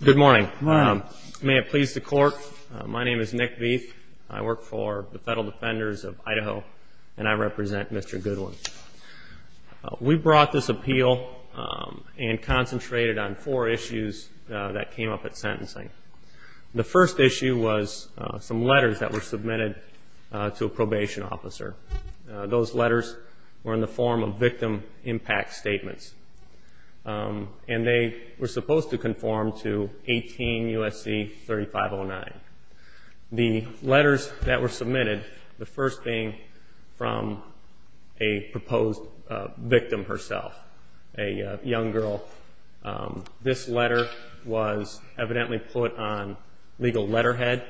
Good morning. May it please the court. My name is Nick Veith. I work for the Federal Defenders of Idaho and I represent Mr. Goodwin. We brought this appeal and concentrated on four issues that came up at sentencing. The first issue was some letters that were submitted to a probation officer. Those letters were in the form of victim impact statements and they were supposed to conform to 18 U.S.C. 3509. The letters that were submitted, the first being from a proposed victim herself, a young girl. This letter was evidently put on legal letterhead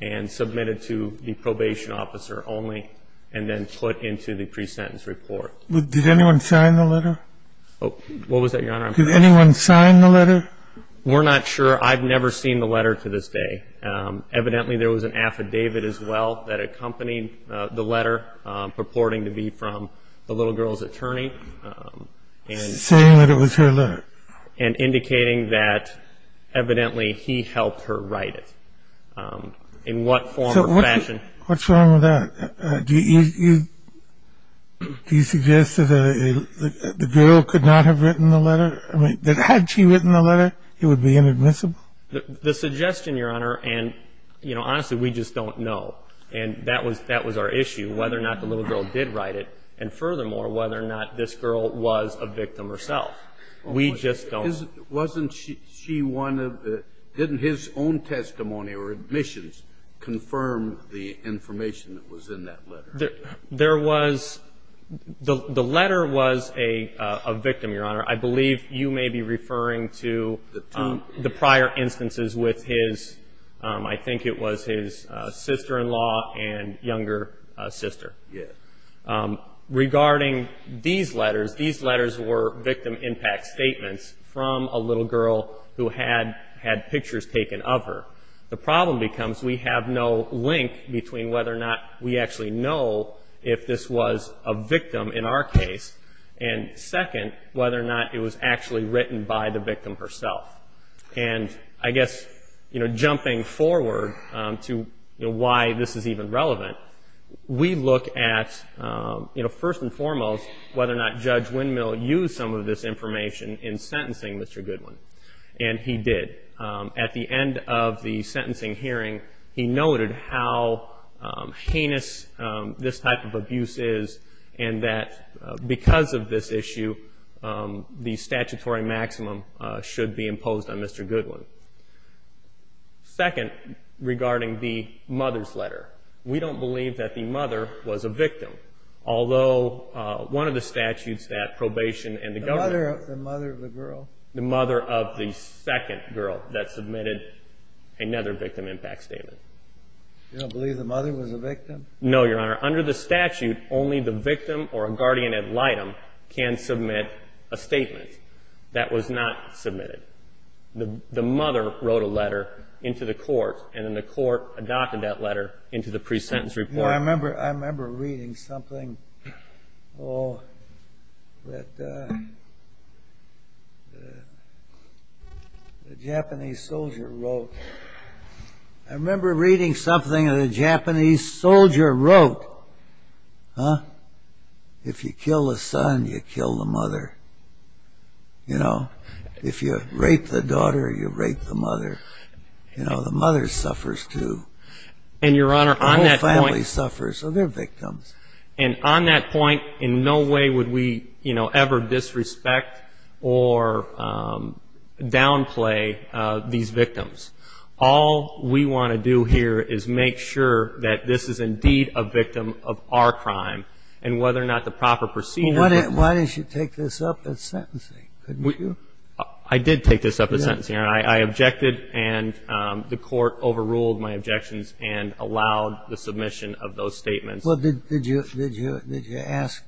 and submitted to the probation officer only and then put into the pre-sentence report. Did anyone sign the letter? What was that, Your Honor? Did anyone sign the letter? We're not sure. I've never seen the letter to this day. Evidently there was an affidavit as well that accompanied the letter purporting to be from the little girl's attorney. Saying that it was her letter? And indicating that evidently he helped her write it. In what form or fashion? What's wrong with that? Do you suggest that the girl could not have written the letter? Had she written the letter, it would be inadmissible? The suggestion, Your Honor, and honestly we just don't know. And that was our issue, whether or not the little girl did write it and furthermore whether or not this girl was a victim herself. We just don't know. Wasn't she one of the, didn't his own testimony or admissions confirm the information that was in that letter? There was, the letter was a victim, Your Honor. I believe you may be referring to the prior instances with his, I think it was his sister-in-law and younger sister. Yes. Regarding these letters, these letters were victim impact statements from a little girl who had pictures taken of her. The problem becomes we have no link between whether or not we actually know if this was a victim in our case and second, whether or not it was actually written by the victim herself. And I guess, you know, jumping forward to why this is even relevant, we look at, you know, first and foremost, whether or not Judge Windmill used some of this information in sentencing Mr. Goodwin. And he did. At the end of the sentencing hearing, he noted how heinous this type of abuse is and that because of this issue, the statutory maximum should be imposed on Mr. Goodwin. Second, regarding the mother's letter, we don't believe that the mother was a victim, although one of the statutes that probation and the government. The mother of the girl. That submitted another victim impact statement. You don't believe the mother was a victim? No, Your Honor. Under the statute, only the victim or a guardian ad litem can submit a statement. That was not submitted. The mother wrote a letter into the court, and then the court adopted that letter into the pre-sentence report. I remember reading something that a Japanese soldier wrote. I remember reading something that a Japanese soldier wrote. If you kill the son, you kill the mother. You know, if you rape the daughter, you rape the mother. You know, the mother suffers, too. And, Your Honor, on that point. The whole family suffers, so they're victims. And on that point, in no way would we, you know, ever disrespect or downplay these victims. All we want to do here is make sure that this is indeed a victim of our crime, and whether or not the proper procedure. Well, why didn't you take this up at sentencing? Couldn't you? I did take this up at sentencing, Your Honor. I objected, and the court overruled my objections and allowed the submission of those statements. Well, did you ask?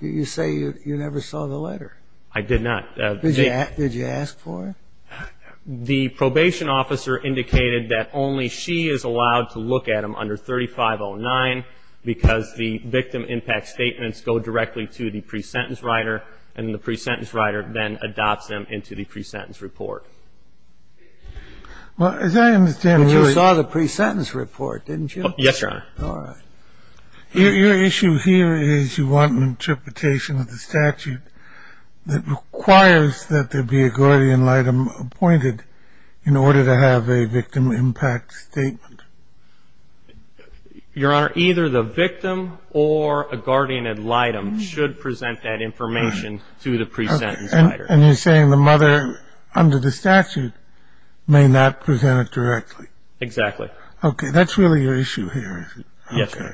You say you never saw the letter. I did not. Did you ask for it? The probation officer indicated that only she is allowed to look at them under 3509, because the victim impact statements go directly to the pre-sentence writer, and the pre-sentence writer then adopts them into the pre-sentence report. Well, as I understand, you saw the pre-sentence report, didn't you? Yes, Your Honor. All right. Your issue here is you want an interpretation of the statute that requires that there be a guardian litem appointed in order to have a victim impact statement. Your Honor, either the victim or a guardian litem should present that information to the pre-sentence writer. And you're saying the mother under the statute may not present it directly. Exactly. Okay. That's really your issue here, is it? Yes, Your Honor.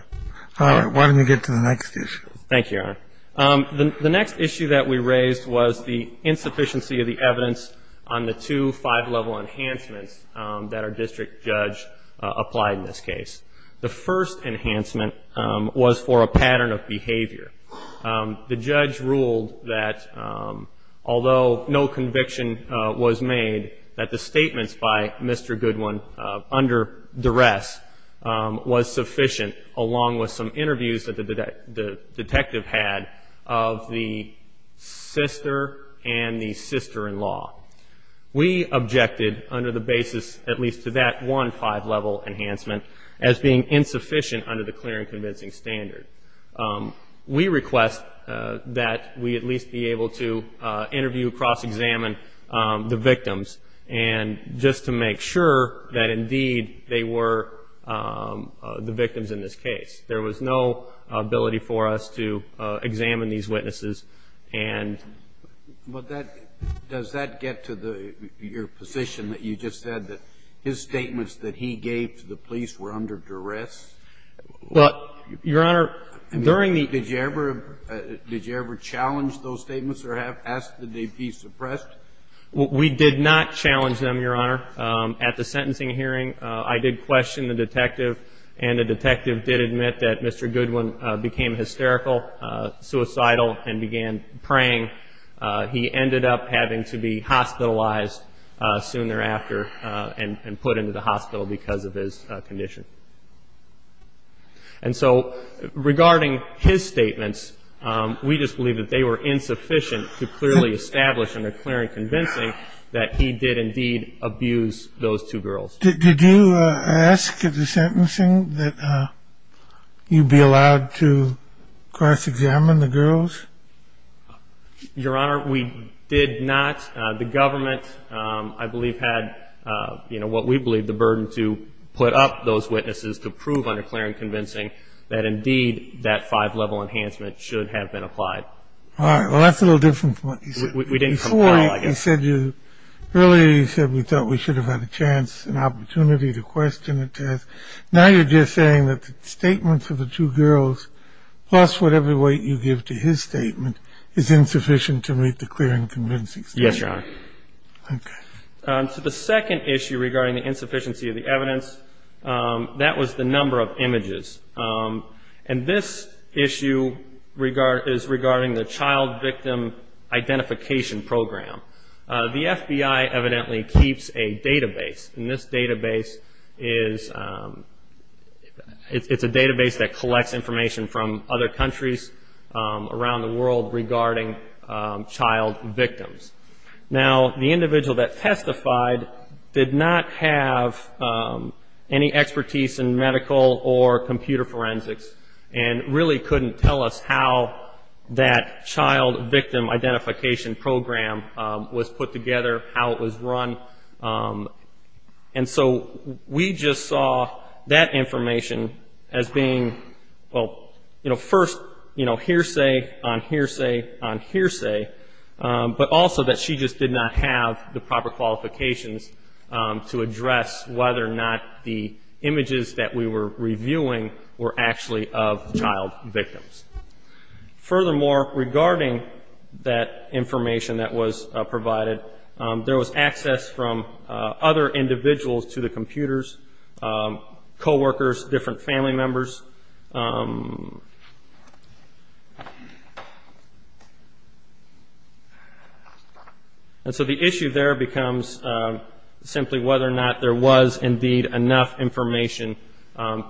Okay. All right. Why don't you get to the next issue? Thank you, Your Honor. The next issue that we raised was the insufficiency of the evidence on the two five-level enhancements that our district judge applied in this case. The first enhancement was for a pattern of behavior. The judge ruled that although no conviction was made, that the statements by Mr. Goodwin under duress was sufficient, along with some interviews that the detective had of the sister and the sister-in-law. We objected under the basis at least to that one five-level enhancement as being insufficient under the clear and convincing standard. We request that we at least be able to interview, cross-examine the victims, and just to make sure that, indeed, they were the victims in this case. There was no ability for us to examine these witnesses. Does that get to your position that you just said, that his statements that he gave to the police were under duress? Your Honor, during the ---- Did you ever challenge those statements or ask did they be suppressed? We did not challenge them, Your Honor. At the sentencing hearing, I did question the detective, and the detective did admit that Mr. Goodwin became hysterical, suicidal, and began praying. He ended up having to be hospitalized soon thereafter and put into the hospital because of his condition. And so regarding his statements, we just believe that they were insufficient to clearly establish under clear and convincing that he did, indeed, abuse those two girls. Did you ask at the sentencing that you be allowed to cross-examine the girls? Your Honor, we did not. The government, I believe, had, you know, what we believe, the burden to put up those witnesses to prove under clear and convincing that, indeed, that five-level enhancement should have been applied. All right. Well, that's a little different from what you said. We didn't compile it. Earlier you said we thought we should have had a chance, an opportunity, to question the test. Now you're just saying that the statements of the two girls, plus whatever weight you give to his statement, is insufficient to meet the clear and convincing statement. Yes, Your Honor. Okay. So the second issue regarding the insufficiency of the evidence, that was the number of images. And this issue is regarding the Child Victim Identification Program. The FBI evidently keeps a database, and this database is a database that collects information from other countries around the world regarding child victims. Now, the individual that testified did not have any expertise in medical or computer forensics, and really couldn't tell us how that Child Victim Identification Program was put together, how it was run. And so we just saw that information as being, well, you know, first hearsay on hearsay on hearsay, but also that she just did not have the proper qualifications to address whether or not the images that we were reviewing were actually of child victims. Furthermore, regarding that information that was provided, there was access from other individuals to the computers, co-workers, different family members. And so the issue there becomes simply whether or not there was indeed enough information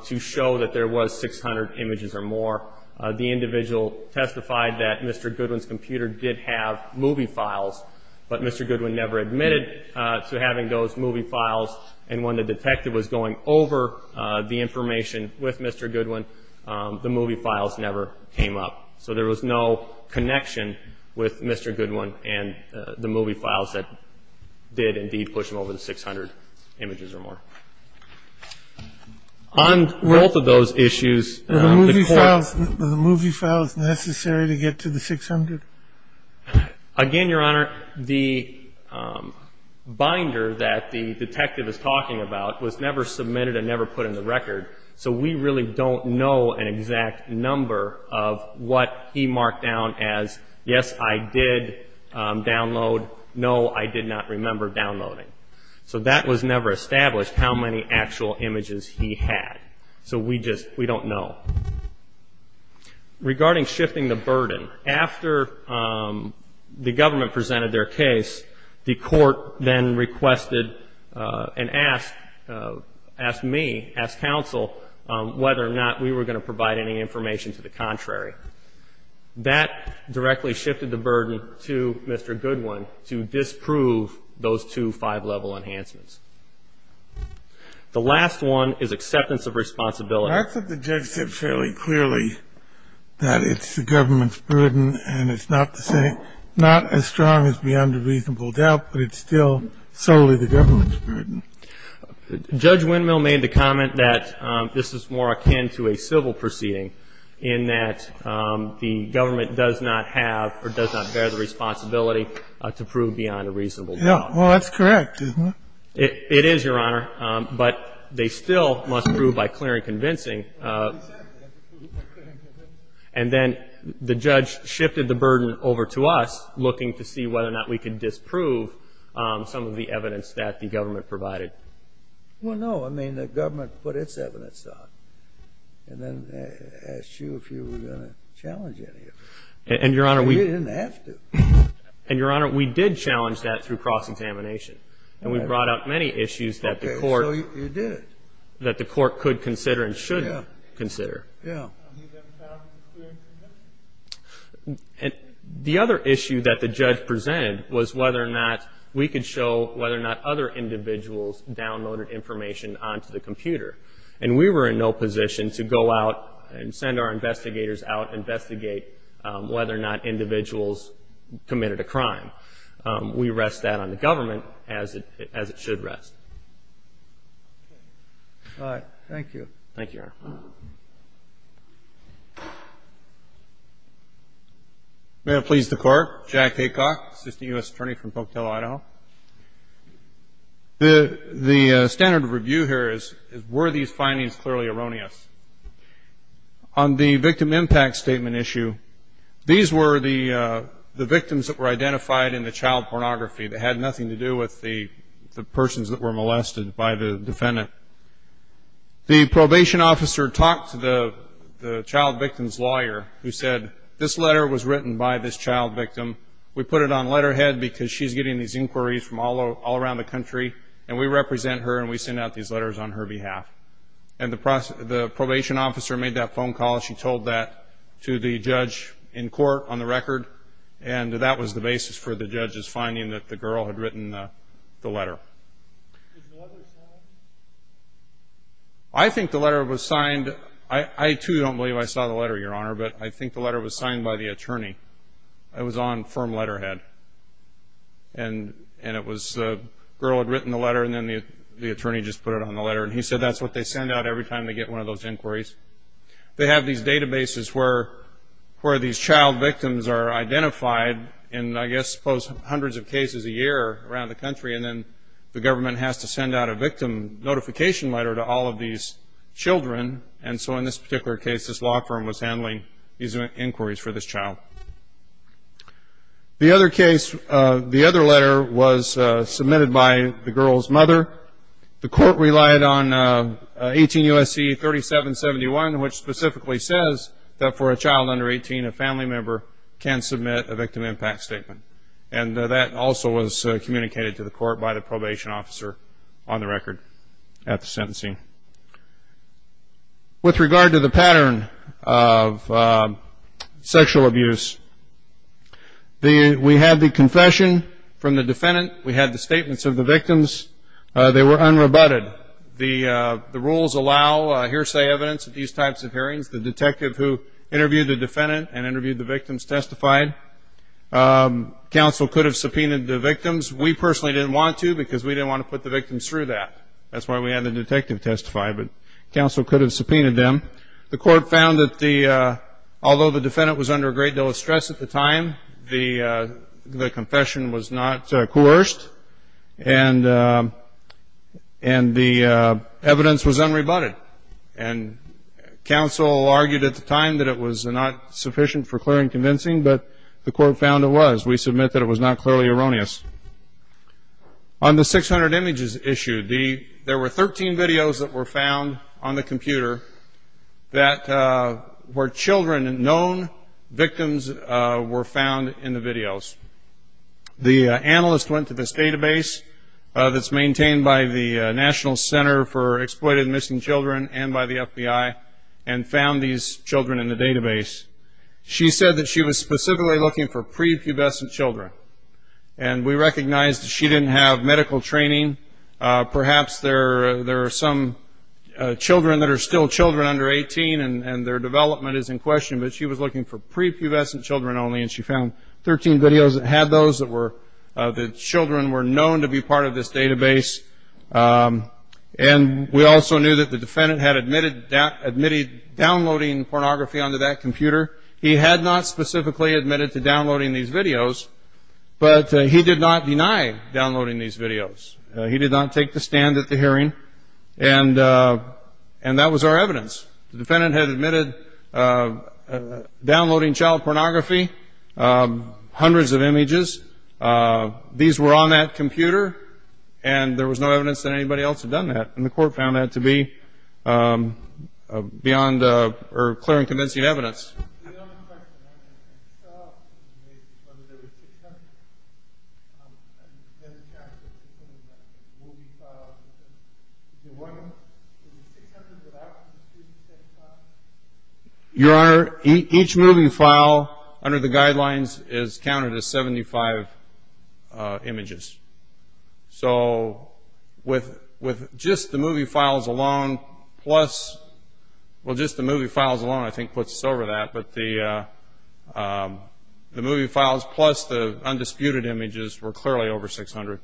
to show that there was 600 images or more. The individual testified that Mr. Goodwin's computer did have movie files, but Mr. Goodwin never admitted to having those movie files, and when the detective was going over the information with Mr. Goodwin, the movie files never came up. So there was no connection with Mr. Goodwin and the movie files that did indeed push him over to 600 images or more. On both of those issues, the court- The movie files necessary to get to the 600? Again, Your Honor, the binder that the detective is talking about was never submitted and never put in the record, so we really don't know an exact number of what he marked down as, yes, I did download, no, I did not remember downloading. So that was never established, how many actual images he had. So we just don't know. Regarding shifting the burden, after the government presented their case, the court then requested and asked me, asked counsel, whether or not we were going to provide any information to the contrary. That directly shifted the burden to Mr. Goodwin to disprove those two five-level enhancements. The last one is acceptance of responsibility. I thought the judge said fairly clearly that it's the government's burden and it's not as strong as beyond a reasonable doubt, but it's still solely the government's burden. Judge Windmill made the comment that this is more akin to a civil proceeding in that the government does not have or does not bear the responsibility to prove beyond a reasonable doubt. Well, that's correct, isn't it? It is, Your Honor, but they still must prove by clear and convincing. And then the judge shifted the burden over to us, looking to see whether or not we could disprove some of the evidence that the government provided. Well, no. I mean, the government put its evidence on and then asked you if you were going to challenge any of it. And, Your Honor, we didn't have to. And, Your Honor, we did challenge that through cross-examination and we brought out many issues that the court could consider and shouldn't consider. And you didn't challenge the clear and convincing? The other issue that the judge presented was whether or not we could show whether or not other individuals downloaded information onto the computer. And we were in no position to go out and send our investigators out and investigate whether or not individuals committed a crime. We rest that on the government, as it should rest. All right. Thank you, Your Honor. May it please the Court. Jack Haycock, Assistant U.S. Attorney from Pocatello, Idaho. The standard of review here is were these findings clearly erroneous? On the victim impact statement issue, these were the victims that were identified in the child pornography that had nothing to do with the persons that were molested by the defendant. The probation officer talked to the child victim's lawyer who said, this letter was written by this child victim. We put it on letterhead because she's getting these inquiries from all around the country and we represent her and we send out these letters on her behalf. And the probation officer made that phone call. She told that to the judge in court on the record. And that was the basis for the judge's finding that the girl had written the letter. Was the letter signed? I think the letter was signed. I, too, don't believe I saw the letter, Your Honor, but I think the letter was signed by the attorney. It was on firm letterhead. And it was the girl had written the letter and then the attorney just put it on the letter. And he said that's what they send out every time they get one of those inquiries. They have these databases where these child victims are identified in I guess close to hundreds of cases a year around the country. And then the government has to send out a victim notification letter to all of these children. And so in this particular case, this law firm was handling these inquiries for this child. The other case, the other letter was submitted by the girl's mother. The court relied on 18 U.S.C. 3771, which specifically says that for a child under 18, a family member can submit a victim impact statement. And that also was communicated to the court by the probation officer on the record at the sentencing. With regard to the pattern of sexual abuse, we had the confession from the defendant. We had the statements of the victims. They were unrebutted. The rules allow hearsay evidence at these types of hearings. The detective who interviewed the defendant and interviewed the victims testified. Counsel could have subpoenaed the victims. We personally didn't want to because we didn't want to put the victims through that. That's why we had the detective testify. But counsel could have subpoenaed them. The court found that although the defendant was under a great deal of stress at the time, the confession was not coerced and the evidence was unrebutted. And counsel argued at the time that it was not sufficient for clearing convincing, but the court found it was. We submit that it was not clearly erroneous. On the 600 images issue, there were 13 videos that were found on the computer where children, known victims, were found in the videos. The analyst went to this database that's maintained by the National Center for Exploited and Missing Children and by the FBI and found these children in the database. She said that she was specifically looking for prepubescent children, and we recognized that she didn't have medical training. Perhaps there are some children that are still children under 18, and their development is in question, but she was looking for prepubescent children only, and she found 13 videos that had those, that children were known to be part of this database. And we also knew that the defendant had admitted downloading pornography onto that computer. He had not specifically admitted to downloading these videos, but he did not deny downloading these videos. He did not take the stand at the hearing, and that was our evidence. The defendant had admitted downloading child pornography, hundreds of images. These were on that computer, and there was no evidence that anybody else had done that, and the court found that to be beyond or clear in convincing evidence. Your Honor, each movie file under the guidelines is counted as 75 images. So with just the movie files alone plus the undisputed images, we're clearly over 600.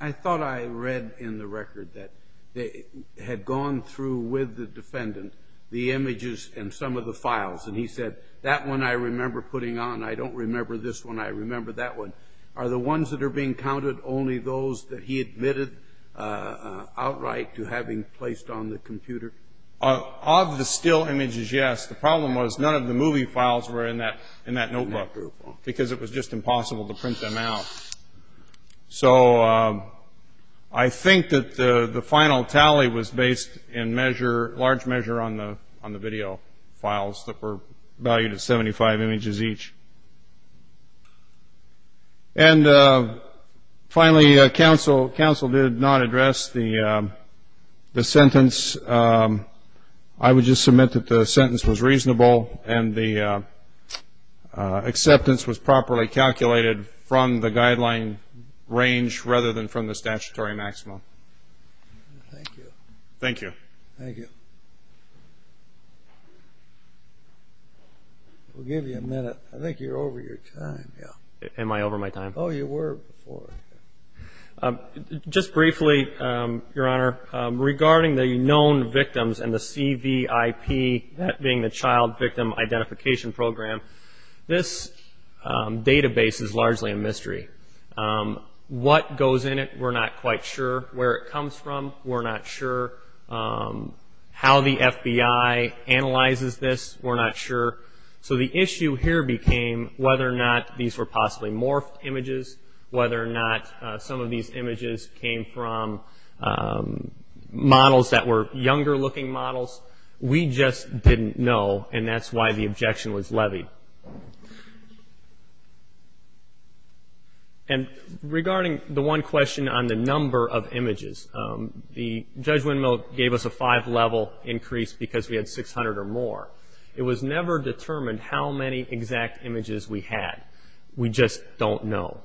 I thought I read in the record that they had gone through with the defendant the images and some of the files, and he said, that one I remember putting on, I don't remember this one, I remember that one, are the ones that are being counted only those that he admitted outright to having placed on the computer? Of the still images, yes. The problem was none of the movie files were in that notebook because it was just impossible to print them out. So I think that the final tally was based in large measure on the video files that were valued at 75 images each. And finally, counsel did not address the sentence. I would just submit that the sentence was reasonable and the acceptance was properly calculated from the guideline range rather than from the statutory maximum. Thank you. Thank you. Thank you. We'll give you a minute. I think you're over your time. Am I over my time? Oh, you were before. Just briefly, Your Honor, regarding the known victims and the CVIP, that being the Child Victim Identification Program, this database is largely a mystery. What goes in it, we're not quite sure. Where it comes from, we're not sure. How the FBI analyzes this, we're not sure. So the issue here became whether or not these were possibly morphed images, whether or not some of these images came from models that were younger-looking models. We just didn't know, and that's why the objection was levied. And regarding the one question on the number of images, Judge Windmill gave us a five-level increase because we had 600 or more. It was never determined how many exact images we had. We just don't know.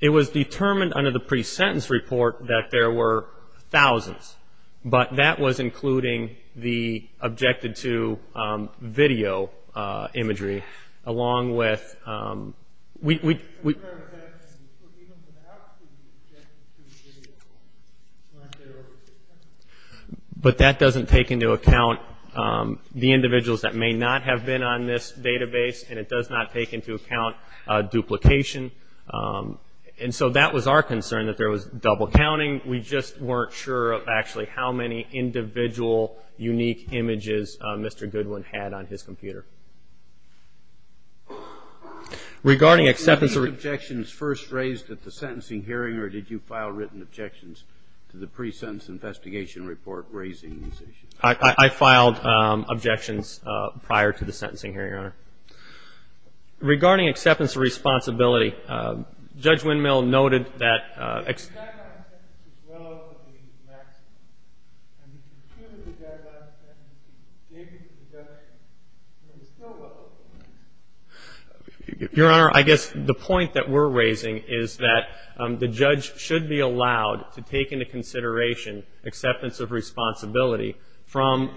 It was determined under the pre-sentence report that there were thousands, but that was including the objected-to video imagery, along with we- But that doesn't take into account the individuals that may not have been on this database, and it does not take into account duplication. And so that was our concern, that there was double-counting. We just weren't sure of actually how many individual unique images Mr. Goodwin had on his computer. Regarding acceptance of- Were these objections first raised at the sentencing hearing, or did you file written objections to the pre-sentence investigation report raising these issues? I filed objections prior to the sentencing hearing, Your Honor. Regarding acceptance of responsibility, Judge Windmill noted that- Your Honor, I guess the point that we're raising is that the judge should be allowed to take into consideration acceptance of responsibility from-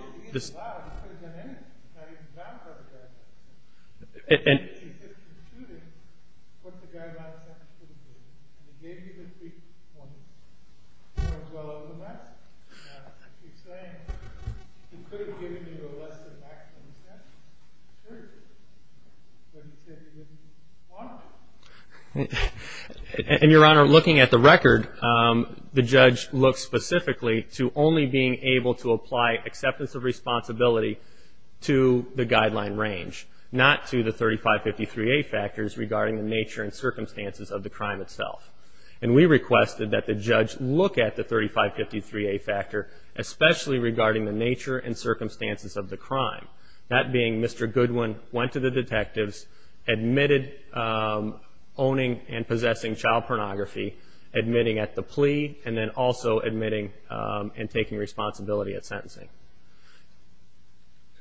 to only being able to apply acceptance of responsibility to the guideline range, not to the 3553A factors regarding the nature and circumstances of the crime itself. And we requested that the judge look at the 3553A factor, especially regarding the nature and circumstances of the crime, that being Mr. Goodwin went to the detectives, admitted owning and possessing child pornography, admitting at the plea, and then also admitting and taking responsibility at sentencing.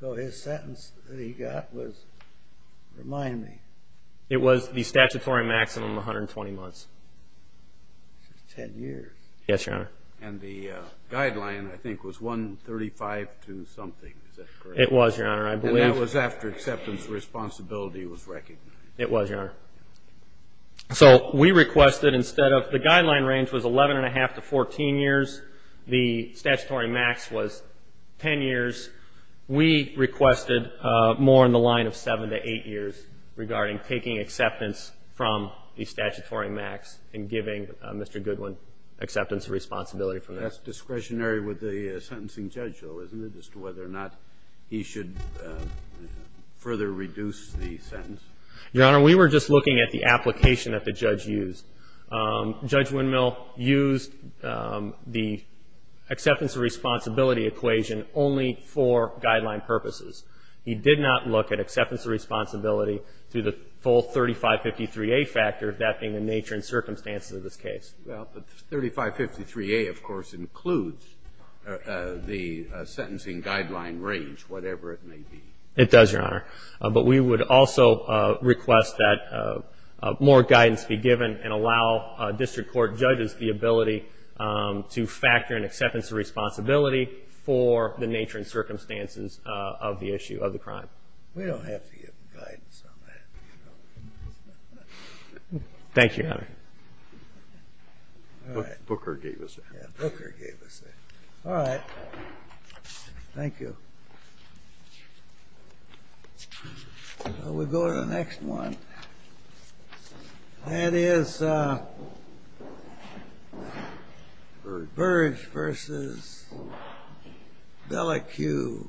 So his sentence that he got was, remind me- It was the statutory maximum of 120 months. Ten years. Yes, Your Honor. And the guideline, I think, was 135 to something. Is that correct? It was, Your Honor. I believe- It was, Your Honor. So we requested instead of- the guideline range was 11 1⁄2 to 14 years. The statutory max was 10 years. We requested more in the line of 7 to 8 years regarding taking acceptance from the statutory max and giving Mr. Goodwin acceptance of responsibility for that. That's discretionary with the sentencing judge, though, isn't it, Your Honor, we were just looking at the application that the judge used. Judge Windmill used the acceptance of responsibility equation only for guideline purposes. He did not look at acceptance of responsibility through the full 3553A factor, that being the nature and circumstances of this case. Well, but 3553A, of course, includes the sentencing guideline range, whatever it may be. It does, Your Honor. But we would also request that more guidance be given and allow district court judges the ability to factor in acceptance of responsibility for the nature and circumstances of the issue of the crime. We don't have to give guidance on that. Thank you, Your Honor. Booker gave us that. Yeah, Booker gave us that. All right. Thank you. We'll go to the next one. That is Burge v. Delacue.